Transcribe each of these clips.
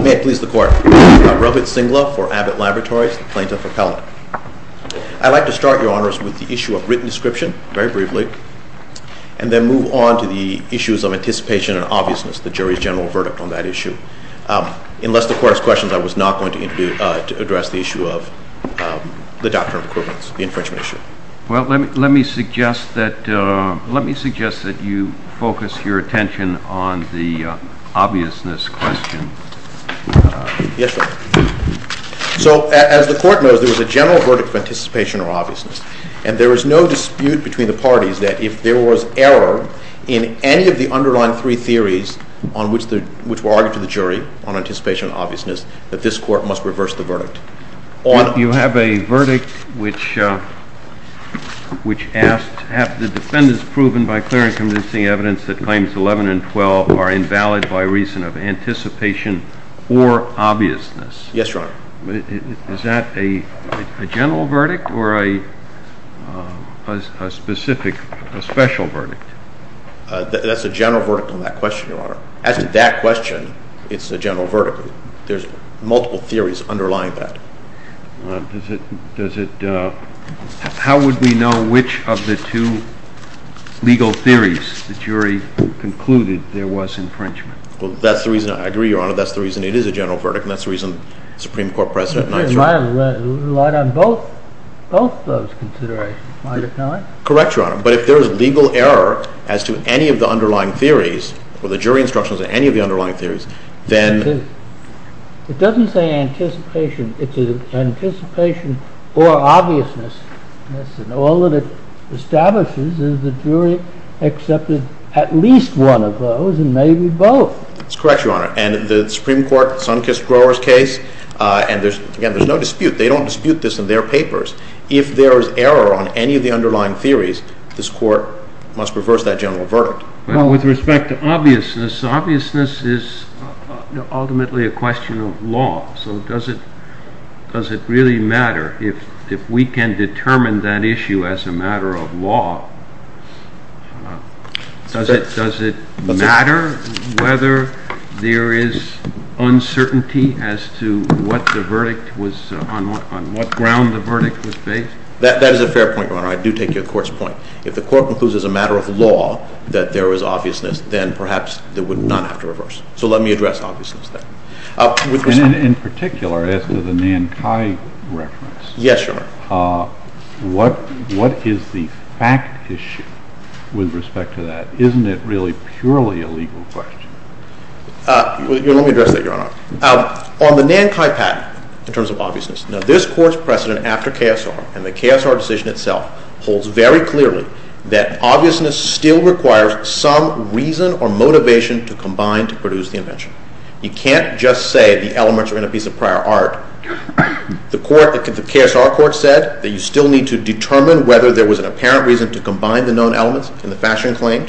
May it please the court, Revit Singla for Abbott Laboratories, plaintiff appellate. I'd like to start, your honors, with the issue of written description, very briefly, and then move on to the issues of anticipation and obviousness, the jury's general verdict on that issue. Unless the court has questions, I was not going to address the issue of the doctrine of equivalence, the infringement issue. Well, let me suggest that, let me suggest that you focus your attention on the obviousness question. Yes, sir. So, as the court knows, there was a general verdict of anticipation or obviousness, and there is no dispute between the parties that if there was error in any of the underlying three theories on which the, which were argued to the jury on anticipation and obviousness, that this court must reverse the verdict. You have a question, your honor. Yes, your honor. Is that a general verdict or a specific, a special verdict? That's a general verdict on that question, your honor. As to that question, it's a general verdict. There's multiple theories underlying that. Does it, does it, how would we know which of the two legal theories the jury concluded there was infringement? Well, that's the reason, I agree, your honor, that's the reason it is a general verdict, and that's the reason the Supreme Court precedent denied it. It might have relied on both, both those considerations, might it not? Correct, your honor, but if there is legal error as to any of the underlying theories, or the jury instructions on any of the underlying theories, then... It doesn't say anticipation, it's an anticipation or obviousness, and all that it establishes is the jury accepted at least one of those and maybe both. That's correct, your honor, and the Supreme Court, Sunkist-Grower's case, and there's, again, there's no dispute, they don't dispute this in their papers. If there is error on any of the underlying theories, this court must reverse that general verdict. Well, with respect to obviousness, obviousness is ultimately a question of law, so does it, does it really matter if we can determine that issue as a matter of law? Does it, does it matter whether there is uncertainty as to what the verdict was, on what ground the verdict was based? That, that is a fair point, your honor. I do take your court's point. If the court concludes as a matter of law that there is obviousness, then perhaps there would not have to reverse. So let me address obviousness there. And in particular, as to the Nankai reference... Yes, your honor. What, what is the fact issue with respect to that? Isn't it really purely a legal question? Let me address that, your honor. On the Nankai patent, in terms of obviousness, now this court's precedent after KSR, and the KSR decision itself, holds very clearly that obviousness still requires some reason or motivation to combine to produce the invention. You can't just say the elements are in a piece of prior art. The court, the KSR court said that you still need to determine whether there was an apparent reason to combine the known elements in the fashion claim.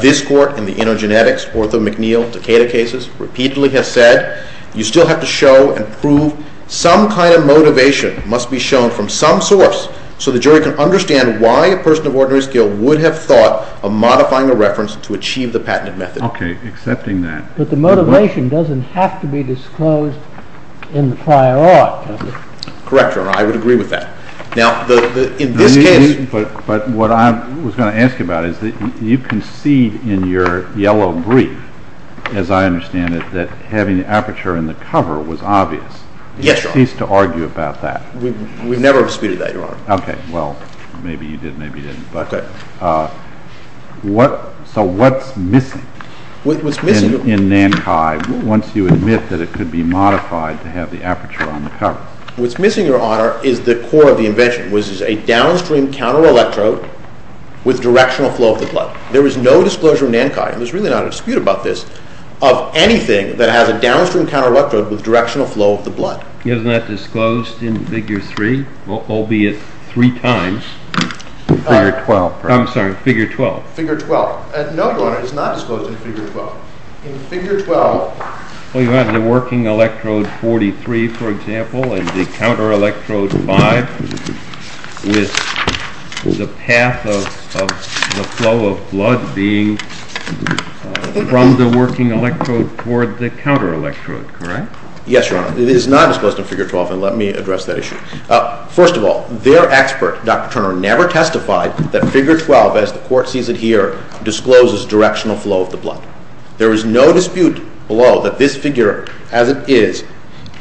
This court, in the InnoGenetics, Ortho, McNeil, Takeda cases, repeatedly has said you still have to show and prove some kind of motivation must be shown from some source so the jury can understand why a person of ordinary skill would have thought of modifying a reference to achieve the patented method. Okay, accepting that. But the motivation doesn't have to be disclosed in the prior art, does it? Correct, your honor. I would agree with that. Now, in this case... But what I was going to ask you about is that you concede in your yellow brief, as I understand it, that having the aperture in the cover was obvious. Yes, your honor. Cease to argue about that. We've never disputed that, your honor. Okay, well, maybe you did, maybe you didn't. Okay. So what's missing? In Nankai, once you admit that it could be modified to have the aperture on the cover. What's missing, your honor, is the core of the invention, which is a downstream counter-electrode with directional flow of the blood. There is no disclosure in Nankai, and there's really not a dispute about this, of anything that has a downstream counter-electrode with directional flow of the blood. Isn't that disclosed in Figure 3, albeit three times? Figure 12. I'm sorry, Figure 12. Figure 12. No, your honor, it is not disclosed in Figure 12. In Figure 12... Well, you have the working electrode 43, for example, and the counter-electrode 5, with the path of the flow of blood being from the working electrode toward the counter-electrode, correct? Yes, your honor. It is not disclosed in Figure 12, and let me address that issue. First of all, their expert, Dr. Turner, never testified that Figure 12, as the court sees it here, discloses directional flow of the blood. There is no dispute below that this figure, as it is,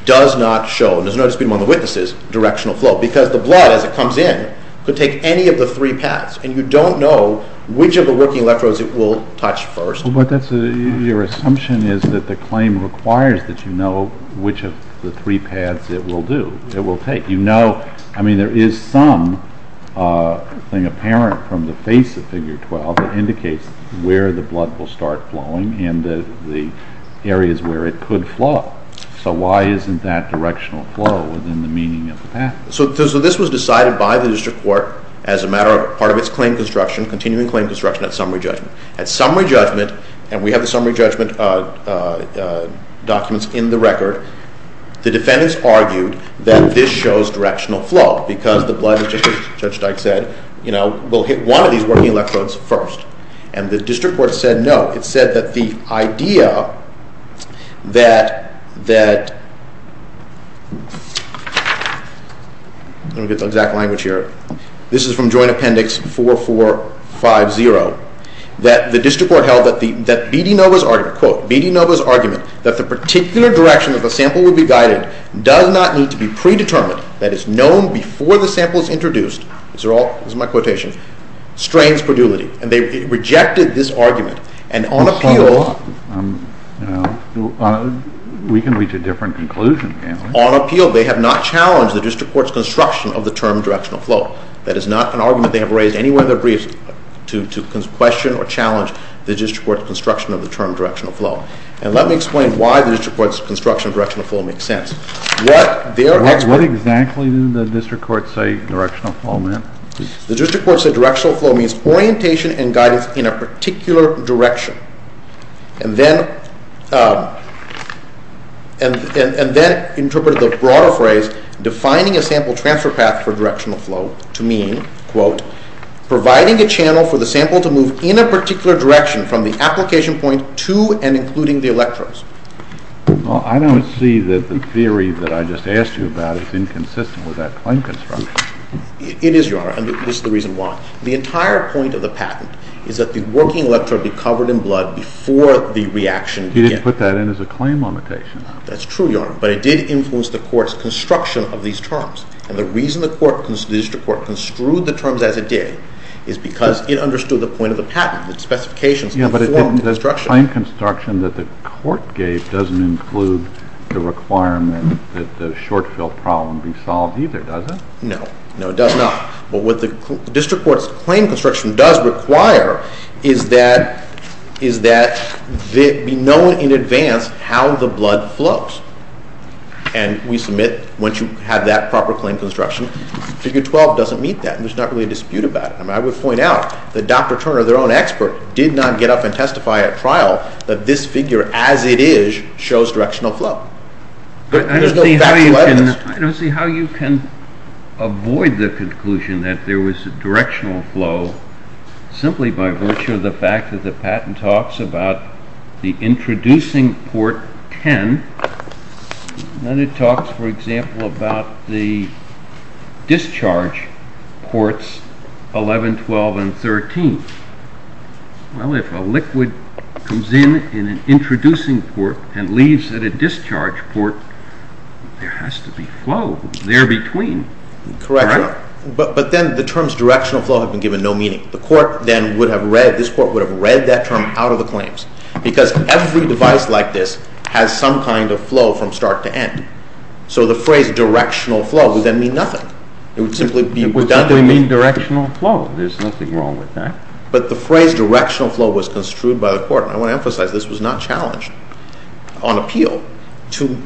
does not show, and there's no dispute among the witnesses, directional flow, because the blood, as it comes in, could take any of the three paths, and you don't know which of the working electrodes it will touch first. But your assumption is that the claim requires that you know which of the three paths it will do, it will take. You know, I mean, there is some thing apparent from the face of Figure 12 that indicates where the blood will start flowing and the areas where it could flow. So why isn't that directional flow within the meaning of the path? So this was decided by the district court as a matter of part of its claim construction, continuing claim construction, at summary judgment. At summary judgment, and we have the summary judgment documents in the record, the defendants argued that this shows directional flow, because the blood, as Judge Dyke said, will hit one of these working electrodes first. And the district court said no. It said that the idea that, let me get the exact language here, this is from Joint Appendix 4450, that the district court held that B.D. Nova's argument, quote, B.D. Nova's argument that the particular direction that the sample will be guided does not need to be predetermined, that it's known before the sample is introduced, these are all, these are my quotations, strains predulity, and they rejected this argument. And on appeal, we can reach a different conclusion, can't we? On appeal, they have not challenged the district court's construction of the term directional flow. That is not an argument they have raised anywhere in their briefs to question or challenge the district court's construction of the term directional flow. And let me explain why the district court's construction of directional flow makes sense. What exactly did the district court say directional flow meant? The district court said directional flow means orientation and guidance in a particular direction, and then interpreted the broader phrase defining a sample transfer path for directional flow to mean, quote, providing a channel for the sample to move in a particular direction from the application point to and including the electrodes. Well, I don't see that the theory that I just asked you about is inconsistent with that claim construction. It is, Your Honor, and this is the reason why. The entire point of the patent is that the working electrode be covered in blood before the reaction began. You didn't put that in as a claim limitation. That's true, Your Honor, but it did influence the court's construction of these terms. And the reason the court, the district court, construed the terms as it did is because it understood the point of the patent, the specifications of the form of construction. Yeah, but the claim construction that the court gave doesn't include the requirement that the short-fill problem be solved either, does it? No, no, it does not. But what the district court's claim construction does require is that it be known in advance how the blood flows. And we submit, once you have that proper claim construction, figure 12 doesn't meet that. There's not really a dispute about it. I would point out that Dr. Turner, their own expert, did not get up and testify at trial that this figure, as it is, shows directional flow. I don't see how you can avoid the conclusion that there was a directional flow, simply by virtue of the fact that the patent talks about the introducing port 10, and it talks, for example, about the discharge ports 11, 12, and 13. Well, if a liquid comes in in an introducing port and leaves at a discharge port, there has to be flow there between. Correct. But then the terms directional flow have been given no meaning. The court then would have read, this court would have read that term out of the claims, because every device like this has some kind of flow from start to end. So the phrase directional flow would then mean nothing. It would simply be redundant. It would simply mean directional flow. There's nothing wrong with that. But the phrase directional flow was construed by the court, and I want to emphasize this was not challenged on appeal, to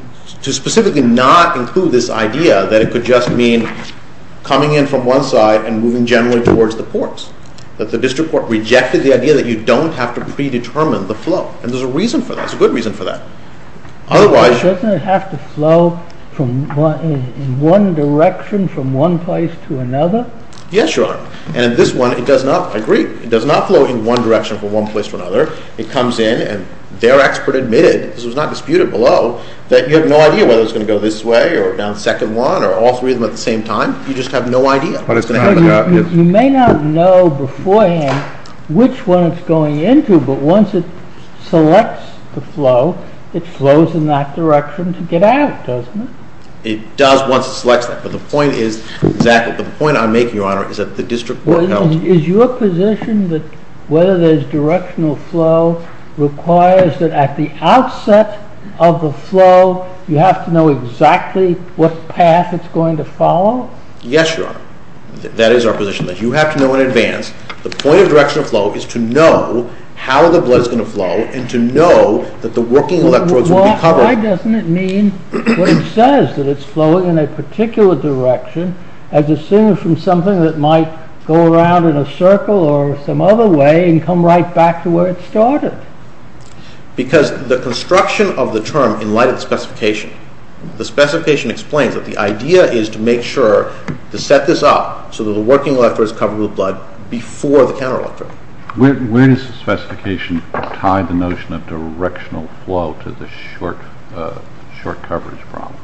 specifically not include this idea that it could just mean coming in from one side and moving generally towards the ports, that the district court rejected the idea that you don't have to predetermine the flow. And there's a reason for that. There's a good reason for that. Otherwise, doesn't it have to flow in one direction from one place to another? Yes, Your Honor. And in this one, it does not. I agree. It does not flow in one direction from one place to another. It comes in, and their expert admitted, this was not disputed below, that you have no idea whether it's going to go this way or down the second one or all three of them at the same time. You just have no idea what is going to happen. You may not know beforehand which one it's going into, but once it selects the flow, it flows in that direction to get out, doesn't it? It does once it selects that, but the point is exactly, the point I'm making, Your Honor, is that the district court held... Is your position that whether there's directional flow requires that at the outset of the flow, you have to know exactly what path it's going to follow? Yes, Your Honor. That is our position, that you have to know in advance. The point of directional flow is to know how the blood is going to flow and to know that the working electrodes will be covered. Why doesn't it mean, when it says that it's flowing in a particular direction, as it seems from something that might go around in a circle or some other way and come right back to where it started? Because the construction of the term, in light of the specification, the specification explains that the idea is to make sure to set this up so that the working electrode is covered with blood before the counter-electrode. Where does the specification tie the notion of directional flow to the short coverage problem?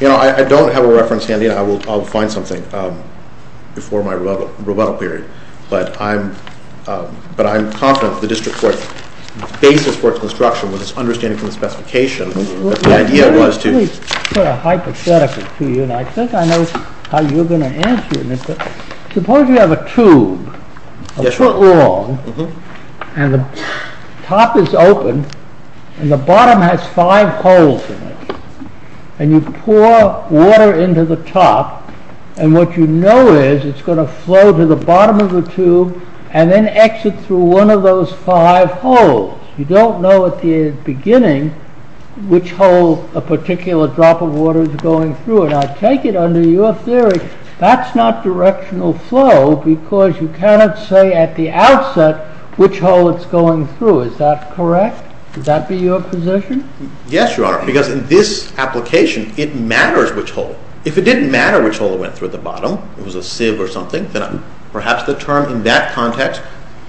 You know, I don't have a reference handy. I'll find something before my rebuttal period. But I'm confident that the District Court's basis for its construction was its understanding from the specification. Let me put a hypothetical to you. I think I know how you're going to answer this. Suppose you have a tube, a foot long, and the top is open, and the bottom has five holes in it. And you pour water into the top, and what you know is it's going to flow to the bottom of the tube and then exit through one of those five holes. You don't know at the beginning which hole a particular drop of water is going through. And I take it, under your theory, that's not directional flow because you cannot say at the outset which hole it's going through. Is that correct? Would that be your position? Yes, Your Honor, because in this application, it matters which hole. If it didn't matter which hole it went through at the bottom, if it was a sieve or something, then perhaps the term in that context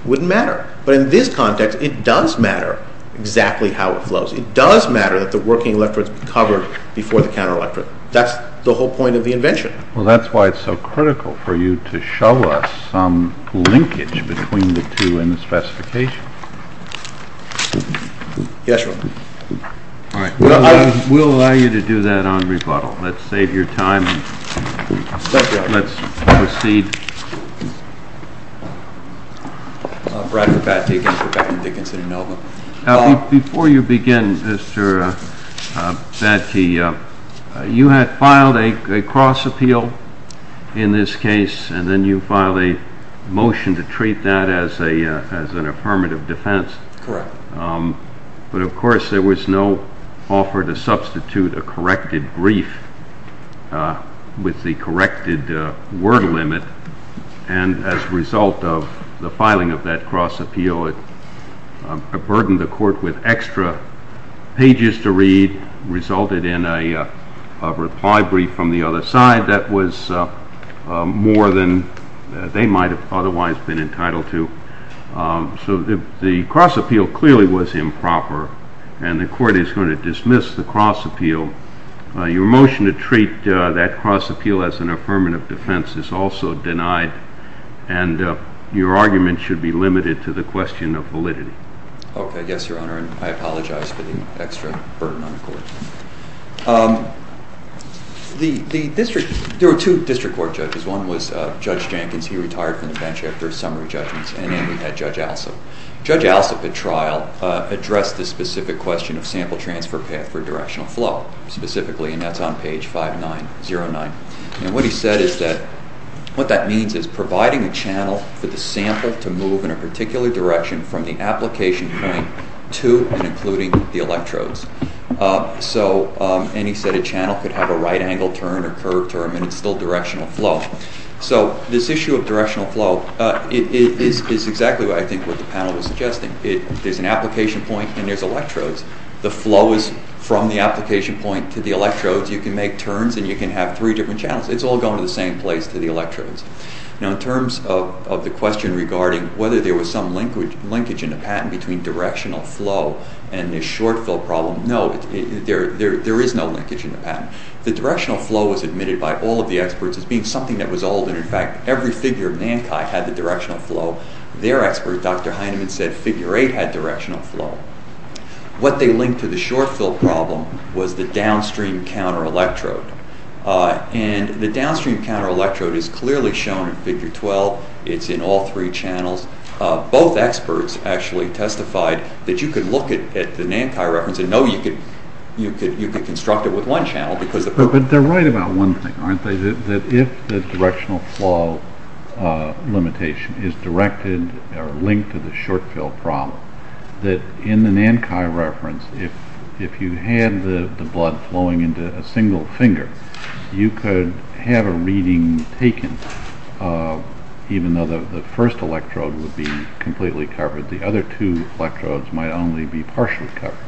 wouldn't matter. But in this context, it does matter exactly how it flows. It does matter that the working electrode is covered before the counter-electrode. That's the whole point of the invention. Well, that's why it's so critical for you to show us some linkage between the two in the specification. Yes, Your Honor. All right. We'll allow you to do that on rebuttal. Let's save your time and let's proceed. Bradford Battey, again, for Beckman, Dickinson, and Melvin. Before you begin, Mr. Battey, you had filed a cross-appeal in this case, and then you filed a motion to treat that as an affirmative defense. Correct. But, of course, there was no offer to substitute a corrected brief with the corrected word limit, and as a result of the filing of that cross-appeal, it burdened the court with extra pages to read, resulted in a reply brief from the other side that was more than they might have otherwise been entitled to. So the cross-appeal clearly was improper, and the court is going to dismiss the cross-appeal. Your motion to treat that cross-appeal as an affirmative defense is also denied, and your argument should be limited to the question of validity. Okay. Yes, Your Honor, and I apologize for the extra burden on the court. There were two district court judges. One was Judge Jenkins. He retired from the bench after a summary judgment, and then we had Judge Alsop. Judge Alsop, at trial, addressed the specific question of sample transfer path for directional flow specifically, and that's on page 5909. And what he said is that what that means is providing a channel for the sample to move in a particular direction from the application point to and including the electrodes. And he said a channel could have a right-angle turn or curved turn, and it's still directional flow. So this issue of directional flow is exactly, I think, what the panel was suggesting. There's an application point, and there's electrodes. The flow is from the application point to the electrodes. You can make turns, and you can have three different channels. It's all going to the same place to the electrodes. Now, in terms of the question regarding whether there was some linkage in the patent between directional flow and this short-fill problem, no, there is no linkage in the patent. The directional flow was admitted by all of the experts as being something that was old, and, in fact, every figure of NANCHI had the directional flow. Their expert, Dr. Heinemann, said figure 8 had directional flow. What they linked to the short-fill problem was the downstream counter-electrode. And the downstream counter-electrode is clearly shown in figure 12. It's in all three channels. Both experts actually testified that you could look at the NANCHI reference and know you could construct it with one channel. But they're right about one thing, aren't they, that if the directional flow limitation is directed or linked to the short-fill problem, that in the NANCHI reference, if you had the blood flowing into a single finger, you could have a reading taken. Even though the first electrode would be completely covered, the other two electrodes might only be partially covered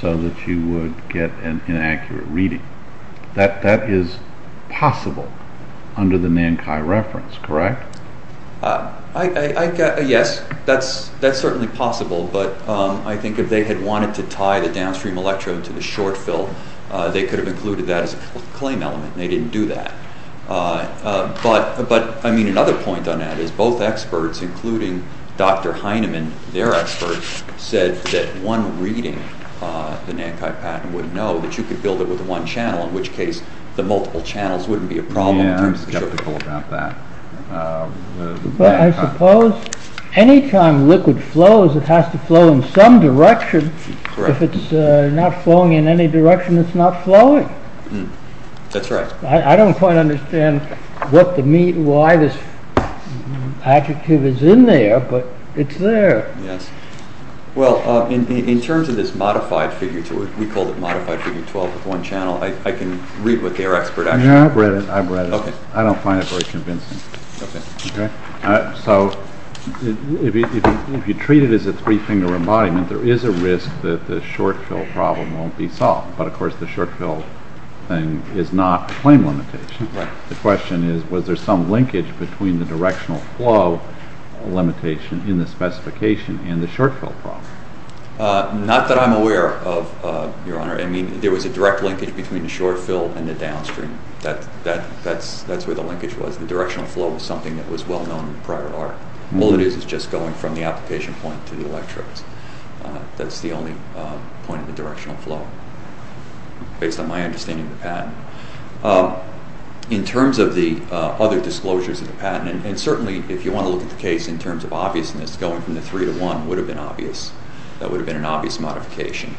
so that you would get an inaccurate reading. That is possible under the NANCHI reference, correct? Yes, that's certainly possible, but I think if they had wanted to tie the downstream electrode to the short-fill, they could have included that as a claim element, and they didn't do that. But, I mean, another point on that is both experts, including Dr. Heinemann, their expert, said that one reading, the NANCHI patent would know, that you could build it with one channel, in which case the multiple channels wouldn't be a problem. Yeah, I'm skeptical about that. But I suppose any time liquid flows, it has to flow in some direction. If it's not flowing in any direction, it's not flowing. That's right. I don't quite understand why this adjective is in there, but it's there. Yes. Well, in terms of this modified figure, we call it modified figure 12 with one channel, I can read what their expert actually said. Yeah, I've read it. I don't find it very convincing. Okay. So, if you treat it as a three-finger embodiment, there is a risk that the short-fill problem won't be solved. But, of course, the short-fill thing is not a claim limitation. Right. The question is, was there some linkage between the directional flow limitation in the specification and the short-fill problem? Not that I'm aware of, Your Honor. I mean, there was a direct linkage between the short-fill and the downstream. That's where the linkage was. The directional flow was something that was well-known in the prior art. All it is is just going from the application point to the electrodes. That's the only point of the directional flow, based on my understanding of the patent. In terms of the other disclosures of the patent, and certainly if you want to look at the case in terms of obviousness, going from the three to one would have been obvious. That would have been an obvious modification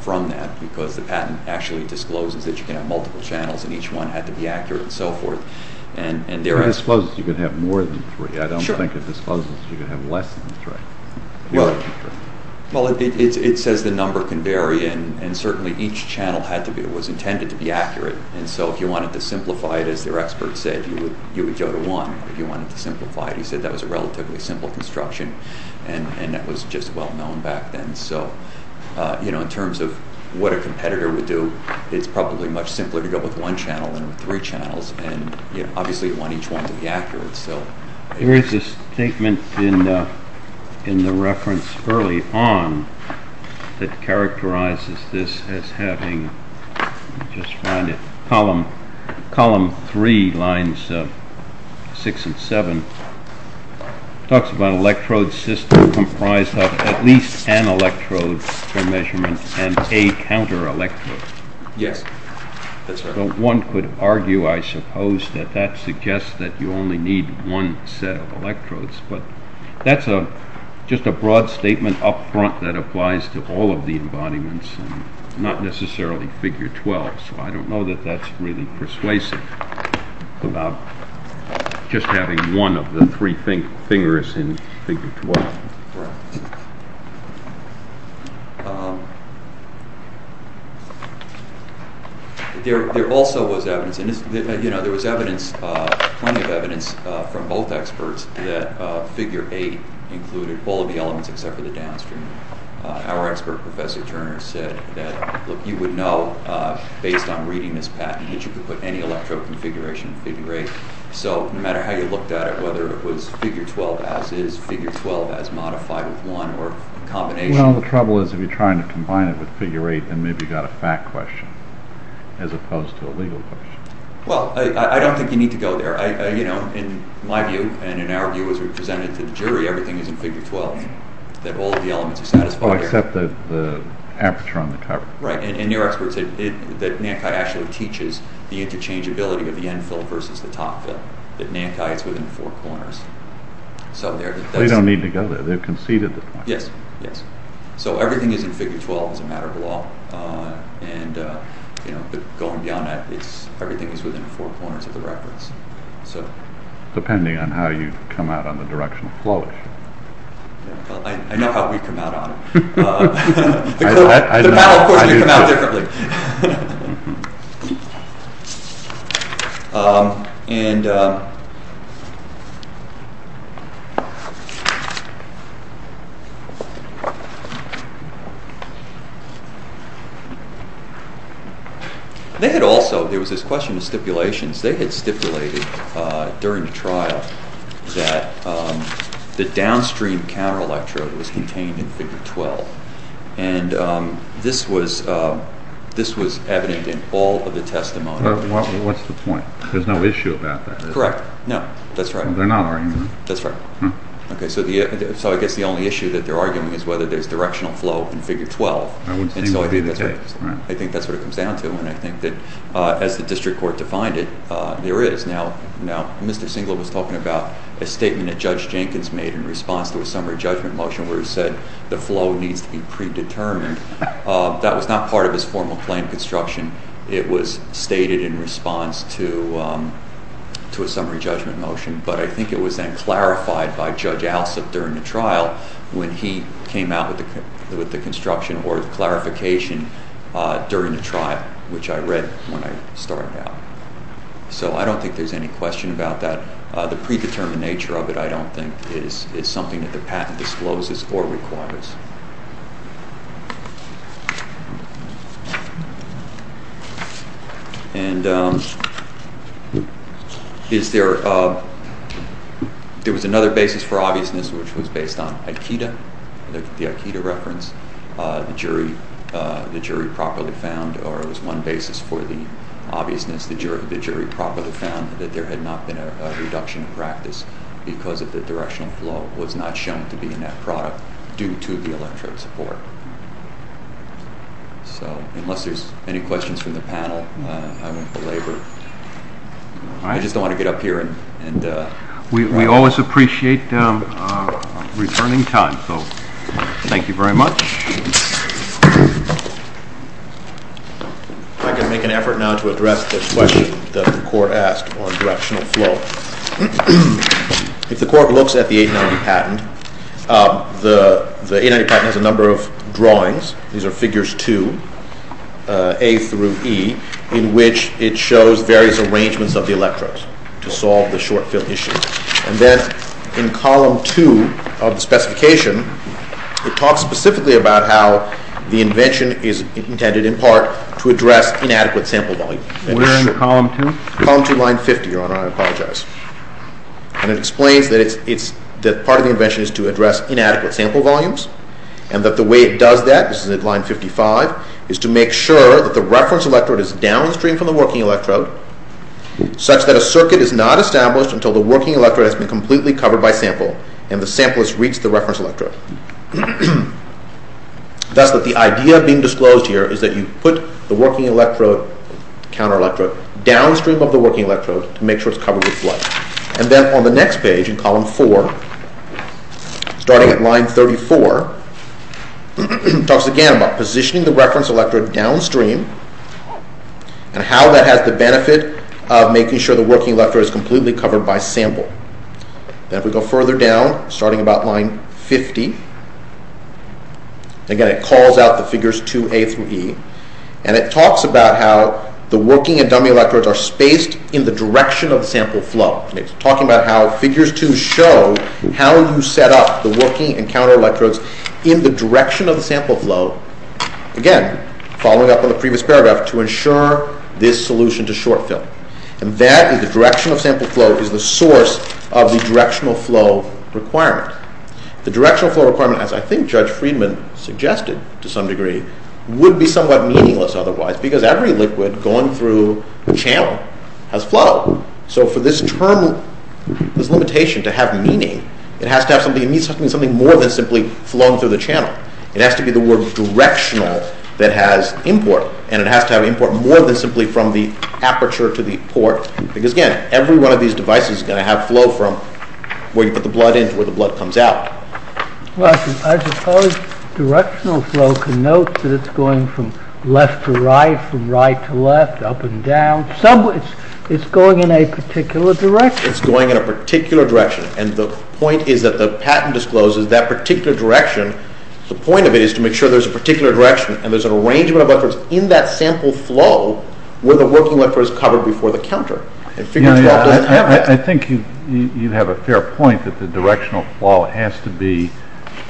from that because the patent actually discloses that you can have multiple channels and each one had to be accurate and so forth. I suppose you could have more than three. I don't think it discloses you could have less than three. Well, it says the number can vary. Certainly, each channel was intended to be accurate. If you wanted to simplify it, as their expert said, you would go to one. If you wanted to simplify it, he said that was a relatively simple construction. That was just well-known back then. In terms of what a competitor would do, it's probably much simpler to go with one channel than with three channels. Obviously, you want each one to be accurate. There is a statement in the reference early on that characterizes this as having, let me just find it, column three, lines six and seven. It talks about an electrode system comprised of at least an electrode for measurement and a counter electrode. Yes, that's right. One could argue, I suppose, that that suggests that you only need one set of electrodes. That's just a broad statement up front that applies to all of the embodiments and not necessarily figure 12. I don't know that that's really persuasive about just having one of the three fingers in figure 12. There also was evidence. There was plenty of evidence from both experts that figure 8 included all of the elements except for the downstream. Our expert, Professor Turner, said that you would know, based on reading this patent, that you could put any electrode configuration in figure 8. No matter how you looked at it, whether it was figure 12 as is, figure 12 as modified with one or a combination. Well, the trouble is if you're trying to combine it with figure 8, then maybe you've got a fact question as opposed to a legal question. Well, I don't think you need to go there. In my view and in our view, as we presented to the jury, everything is in figure 12, that all of the elements are satisfied. Except the aperture on the cover. Right, and your expert said that NANCI actually teaches the interchangeability of the end fill versus the top fill, that NANCI is within four corners. They don't need to go there. They've conceded the point. Yes, yes. So everything is in figure 12 as a matter of law. Going beyond that, everything is within four corners of the reference. Depending on how you come out on the directional flow issue. I know how we come out on it. The panel, of course, can come out differently. They had also, there was this question of stipulations. They had stipulated during the trial that the downstream counter electrode was contained in figure 12. And this was evident in all of the testimony. What's the point? There's no issue about that. Correct. No, that's right. They're not arguing. That's right. So I guess the only issue that they're arguing is whether there's directional flow in figure 12. I would think that would be the case. I think that's what it comes down to. And I think that as the district court defined it, there is. Now, Mr. Singler was talking about a statement that Judge Jenkins made in response to a summary judgment motion where he said the flow needs to be predetermined. That was not part of his formal claim construction. It was stated in response to a summary judgment motion. But I think it was then clarified by Judge Alsup during the trial when he came out with the construction or clarification during the trial, which I read when I started out. So I don't think there's any question about that. The predetermined nature of it, I don't think, is something that the patent discloses or requires. There was another basis for obviousness, which was based on Aikido, the Aikido reference. The jury properly found, or it was one basis for the obviousness, the jury properly found that there had not been a reduction in practice because of the directional flow was not shown to be in that product due to the electric support. So unless there's any questions from the panel, I won't belabor. I just don't want to get up here and— We always appreciate returning time, so thank you very much. If I could make an effort now to address the question that the court asked on directional flow. If the court looks at the 890 patent, the 890 patent has a number of drawings. These are figures two, A through E, in which it shows various arrangements of the electrodes to solve the short-fill issue. And then in column two of the specification, it talks specifically about how the invention is intended in part to address inadequate sample volume. We're in column two? Column two, line 50, Your Honor. I apologize. And it explains that part of the invention is to address inadequate sample volumes and that the way it does that, this is at line 55, is to make sure that the reference electrode is downstream from the working electrode such that a circuit is not established until the working electrode has been completely covered by sample and the sample has reached the reference electrode. Thus that the idea being disclosed here is that you put the working electrode, counter electrode, downstream of the working electrode to make sure it's covered with blood. And then on the next page in column four, starting at line 34, it talks again about positioning the reference electrode downstream and how that has the benefit of making sure the working electrode is completely covered by sample. Then if we go further down, starting about line 50, again it calls out the figures 2A through E and it talks about how the working and dummy electrodes are spaced in the direction of the sample flow. It's talking about how figures 2 show how you set up the working and counter electrodes in the direction of the sample flow, again, following up on the previous paragraph, to ensure this solution to short fill. And that is the direction of sample flow is the source of the directional flow requirement. The directional flow requirement, as I think Judge Friedman suggested to some degree, would be somewhat meaningless otherwise because every liquid going through the channel has flow. So for this term, this limitation to have meaning, it has to have something more than simply flowing through the channel. It has to be the word directional that has import and it has to have import more than simply from the aperture to the port because again, every one of these devices is going to have flow from where you put the blood in to where the blood comes out. I suppose directional flow can note that it's going from left to right, from right to left, up and down. It's going in a particular direction. It's going in a particular direction and the point is that the patent discloses that particular direction. The point of it is to make sure there's a particular direction and there's an arrangement of electrodes in that sample flow where the working electrode is covered before the counter. I think you have a fair point that the directional flow has to be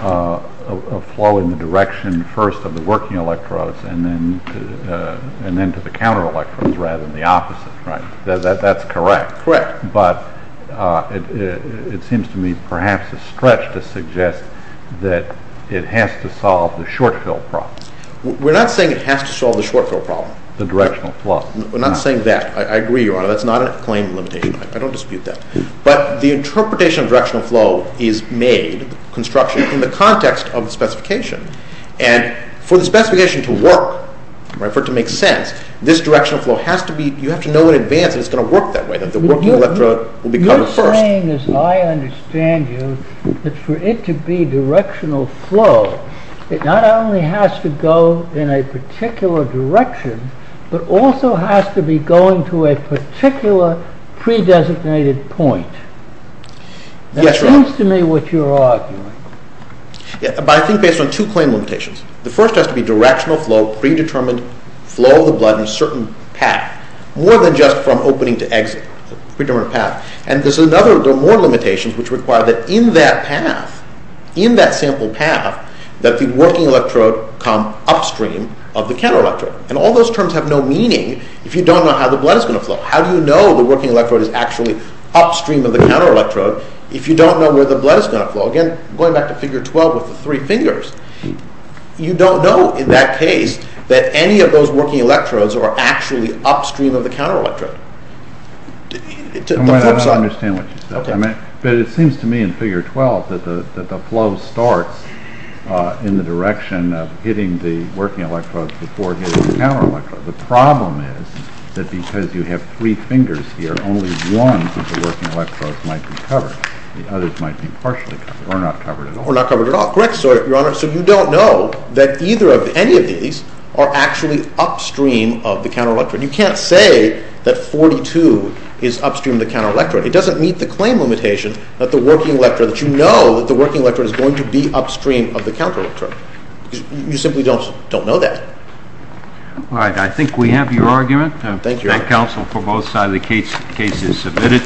a flow in the direction first of the working electrodes and then to the counter electrodes rather than the opposite. That's correct. But it seems to me perhaps a stretch to suggest that it has to solve the short fill problem. We're not saying it has to solve the short fill problem. The directional flow. We're not saying that. I agree, Your Honor. That's not a claim limitation. I don't dispute that. But the interpretation of directional flow is made, construction, in the context of the specification. And for the specification to work, for it to make sense, this directional flow has to be, you have to know in advance that it's going to work that way, that the working electrode will be covered first. You're saying, as I understand you, that for it to be directional flow, it not only has to go in a particular direction but also has to be going to a particular pre-designated point. Yes, Your Honor. That seems to me what you're arguing. But I think based on two claim limitations. The first has to be directional flow, predetermined flow of the blood in a certain path, more than just from opening to exit, a predetermined path. And there are more limitations which require that in that path, in that sample path, that the working electrode come upstream of the counter electrode. And all those terms have no meaning if you don't know how the blood is going to flow. How do you know the working electrode is actually upstream of the counter electrode if you don't know where the blood is going to flow? Again, going back to Figure 12 with the three fingers, you don't know in that case that any of those working electrodes are actually upstream of the counter electrode. I don't understand what you're saying. But it seems to me in Figure 12 that the flow starts in the direction of hitting the working electrode before hitting the counter electrode. The problem is that because you have three fingers here, only one of the working electrodes might be covered. The others might be partially covered or not covered at all. Or not covered at all. Correct, Your Honor. So you don't know that either of any of these are actually upstream of the counter electrode. You can't say that 42 is upstream of the counter electrode. It doesn't meet the claim limitation that the working electrode, that you know that the working electrode is going to be upstream of the counter electrode. You simply don't know that. All right. I think we have your argument. Thank you, Your Honor. That counts for both sides of the case as submitted.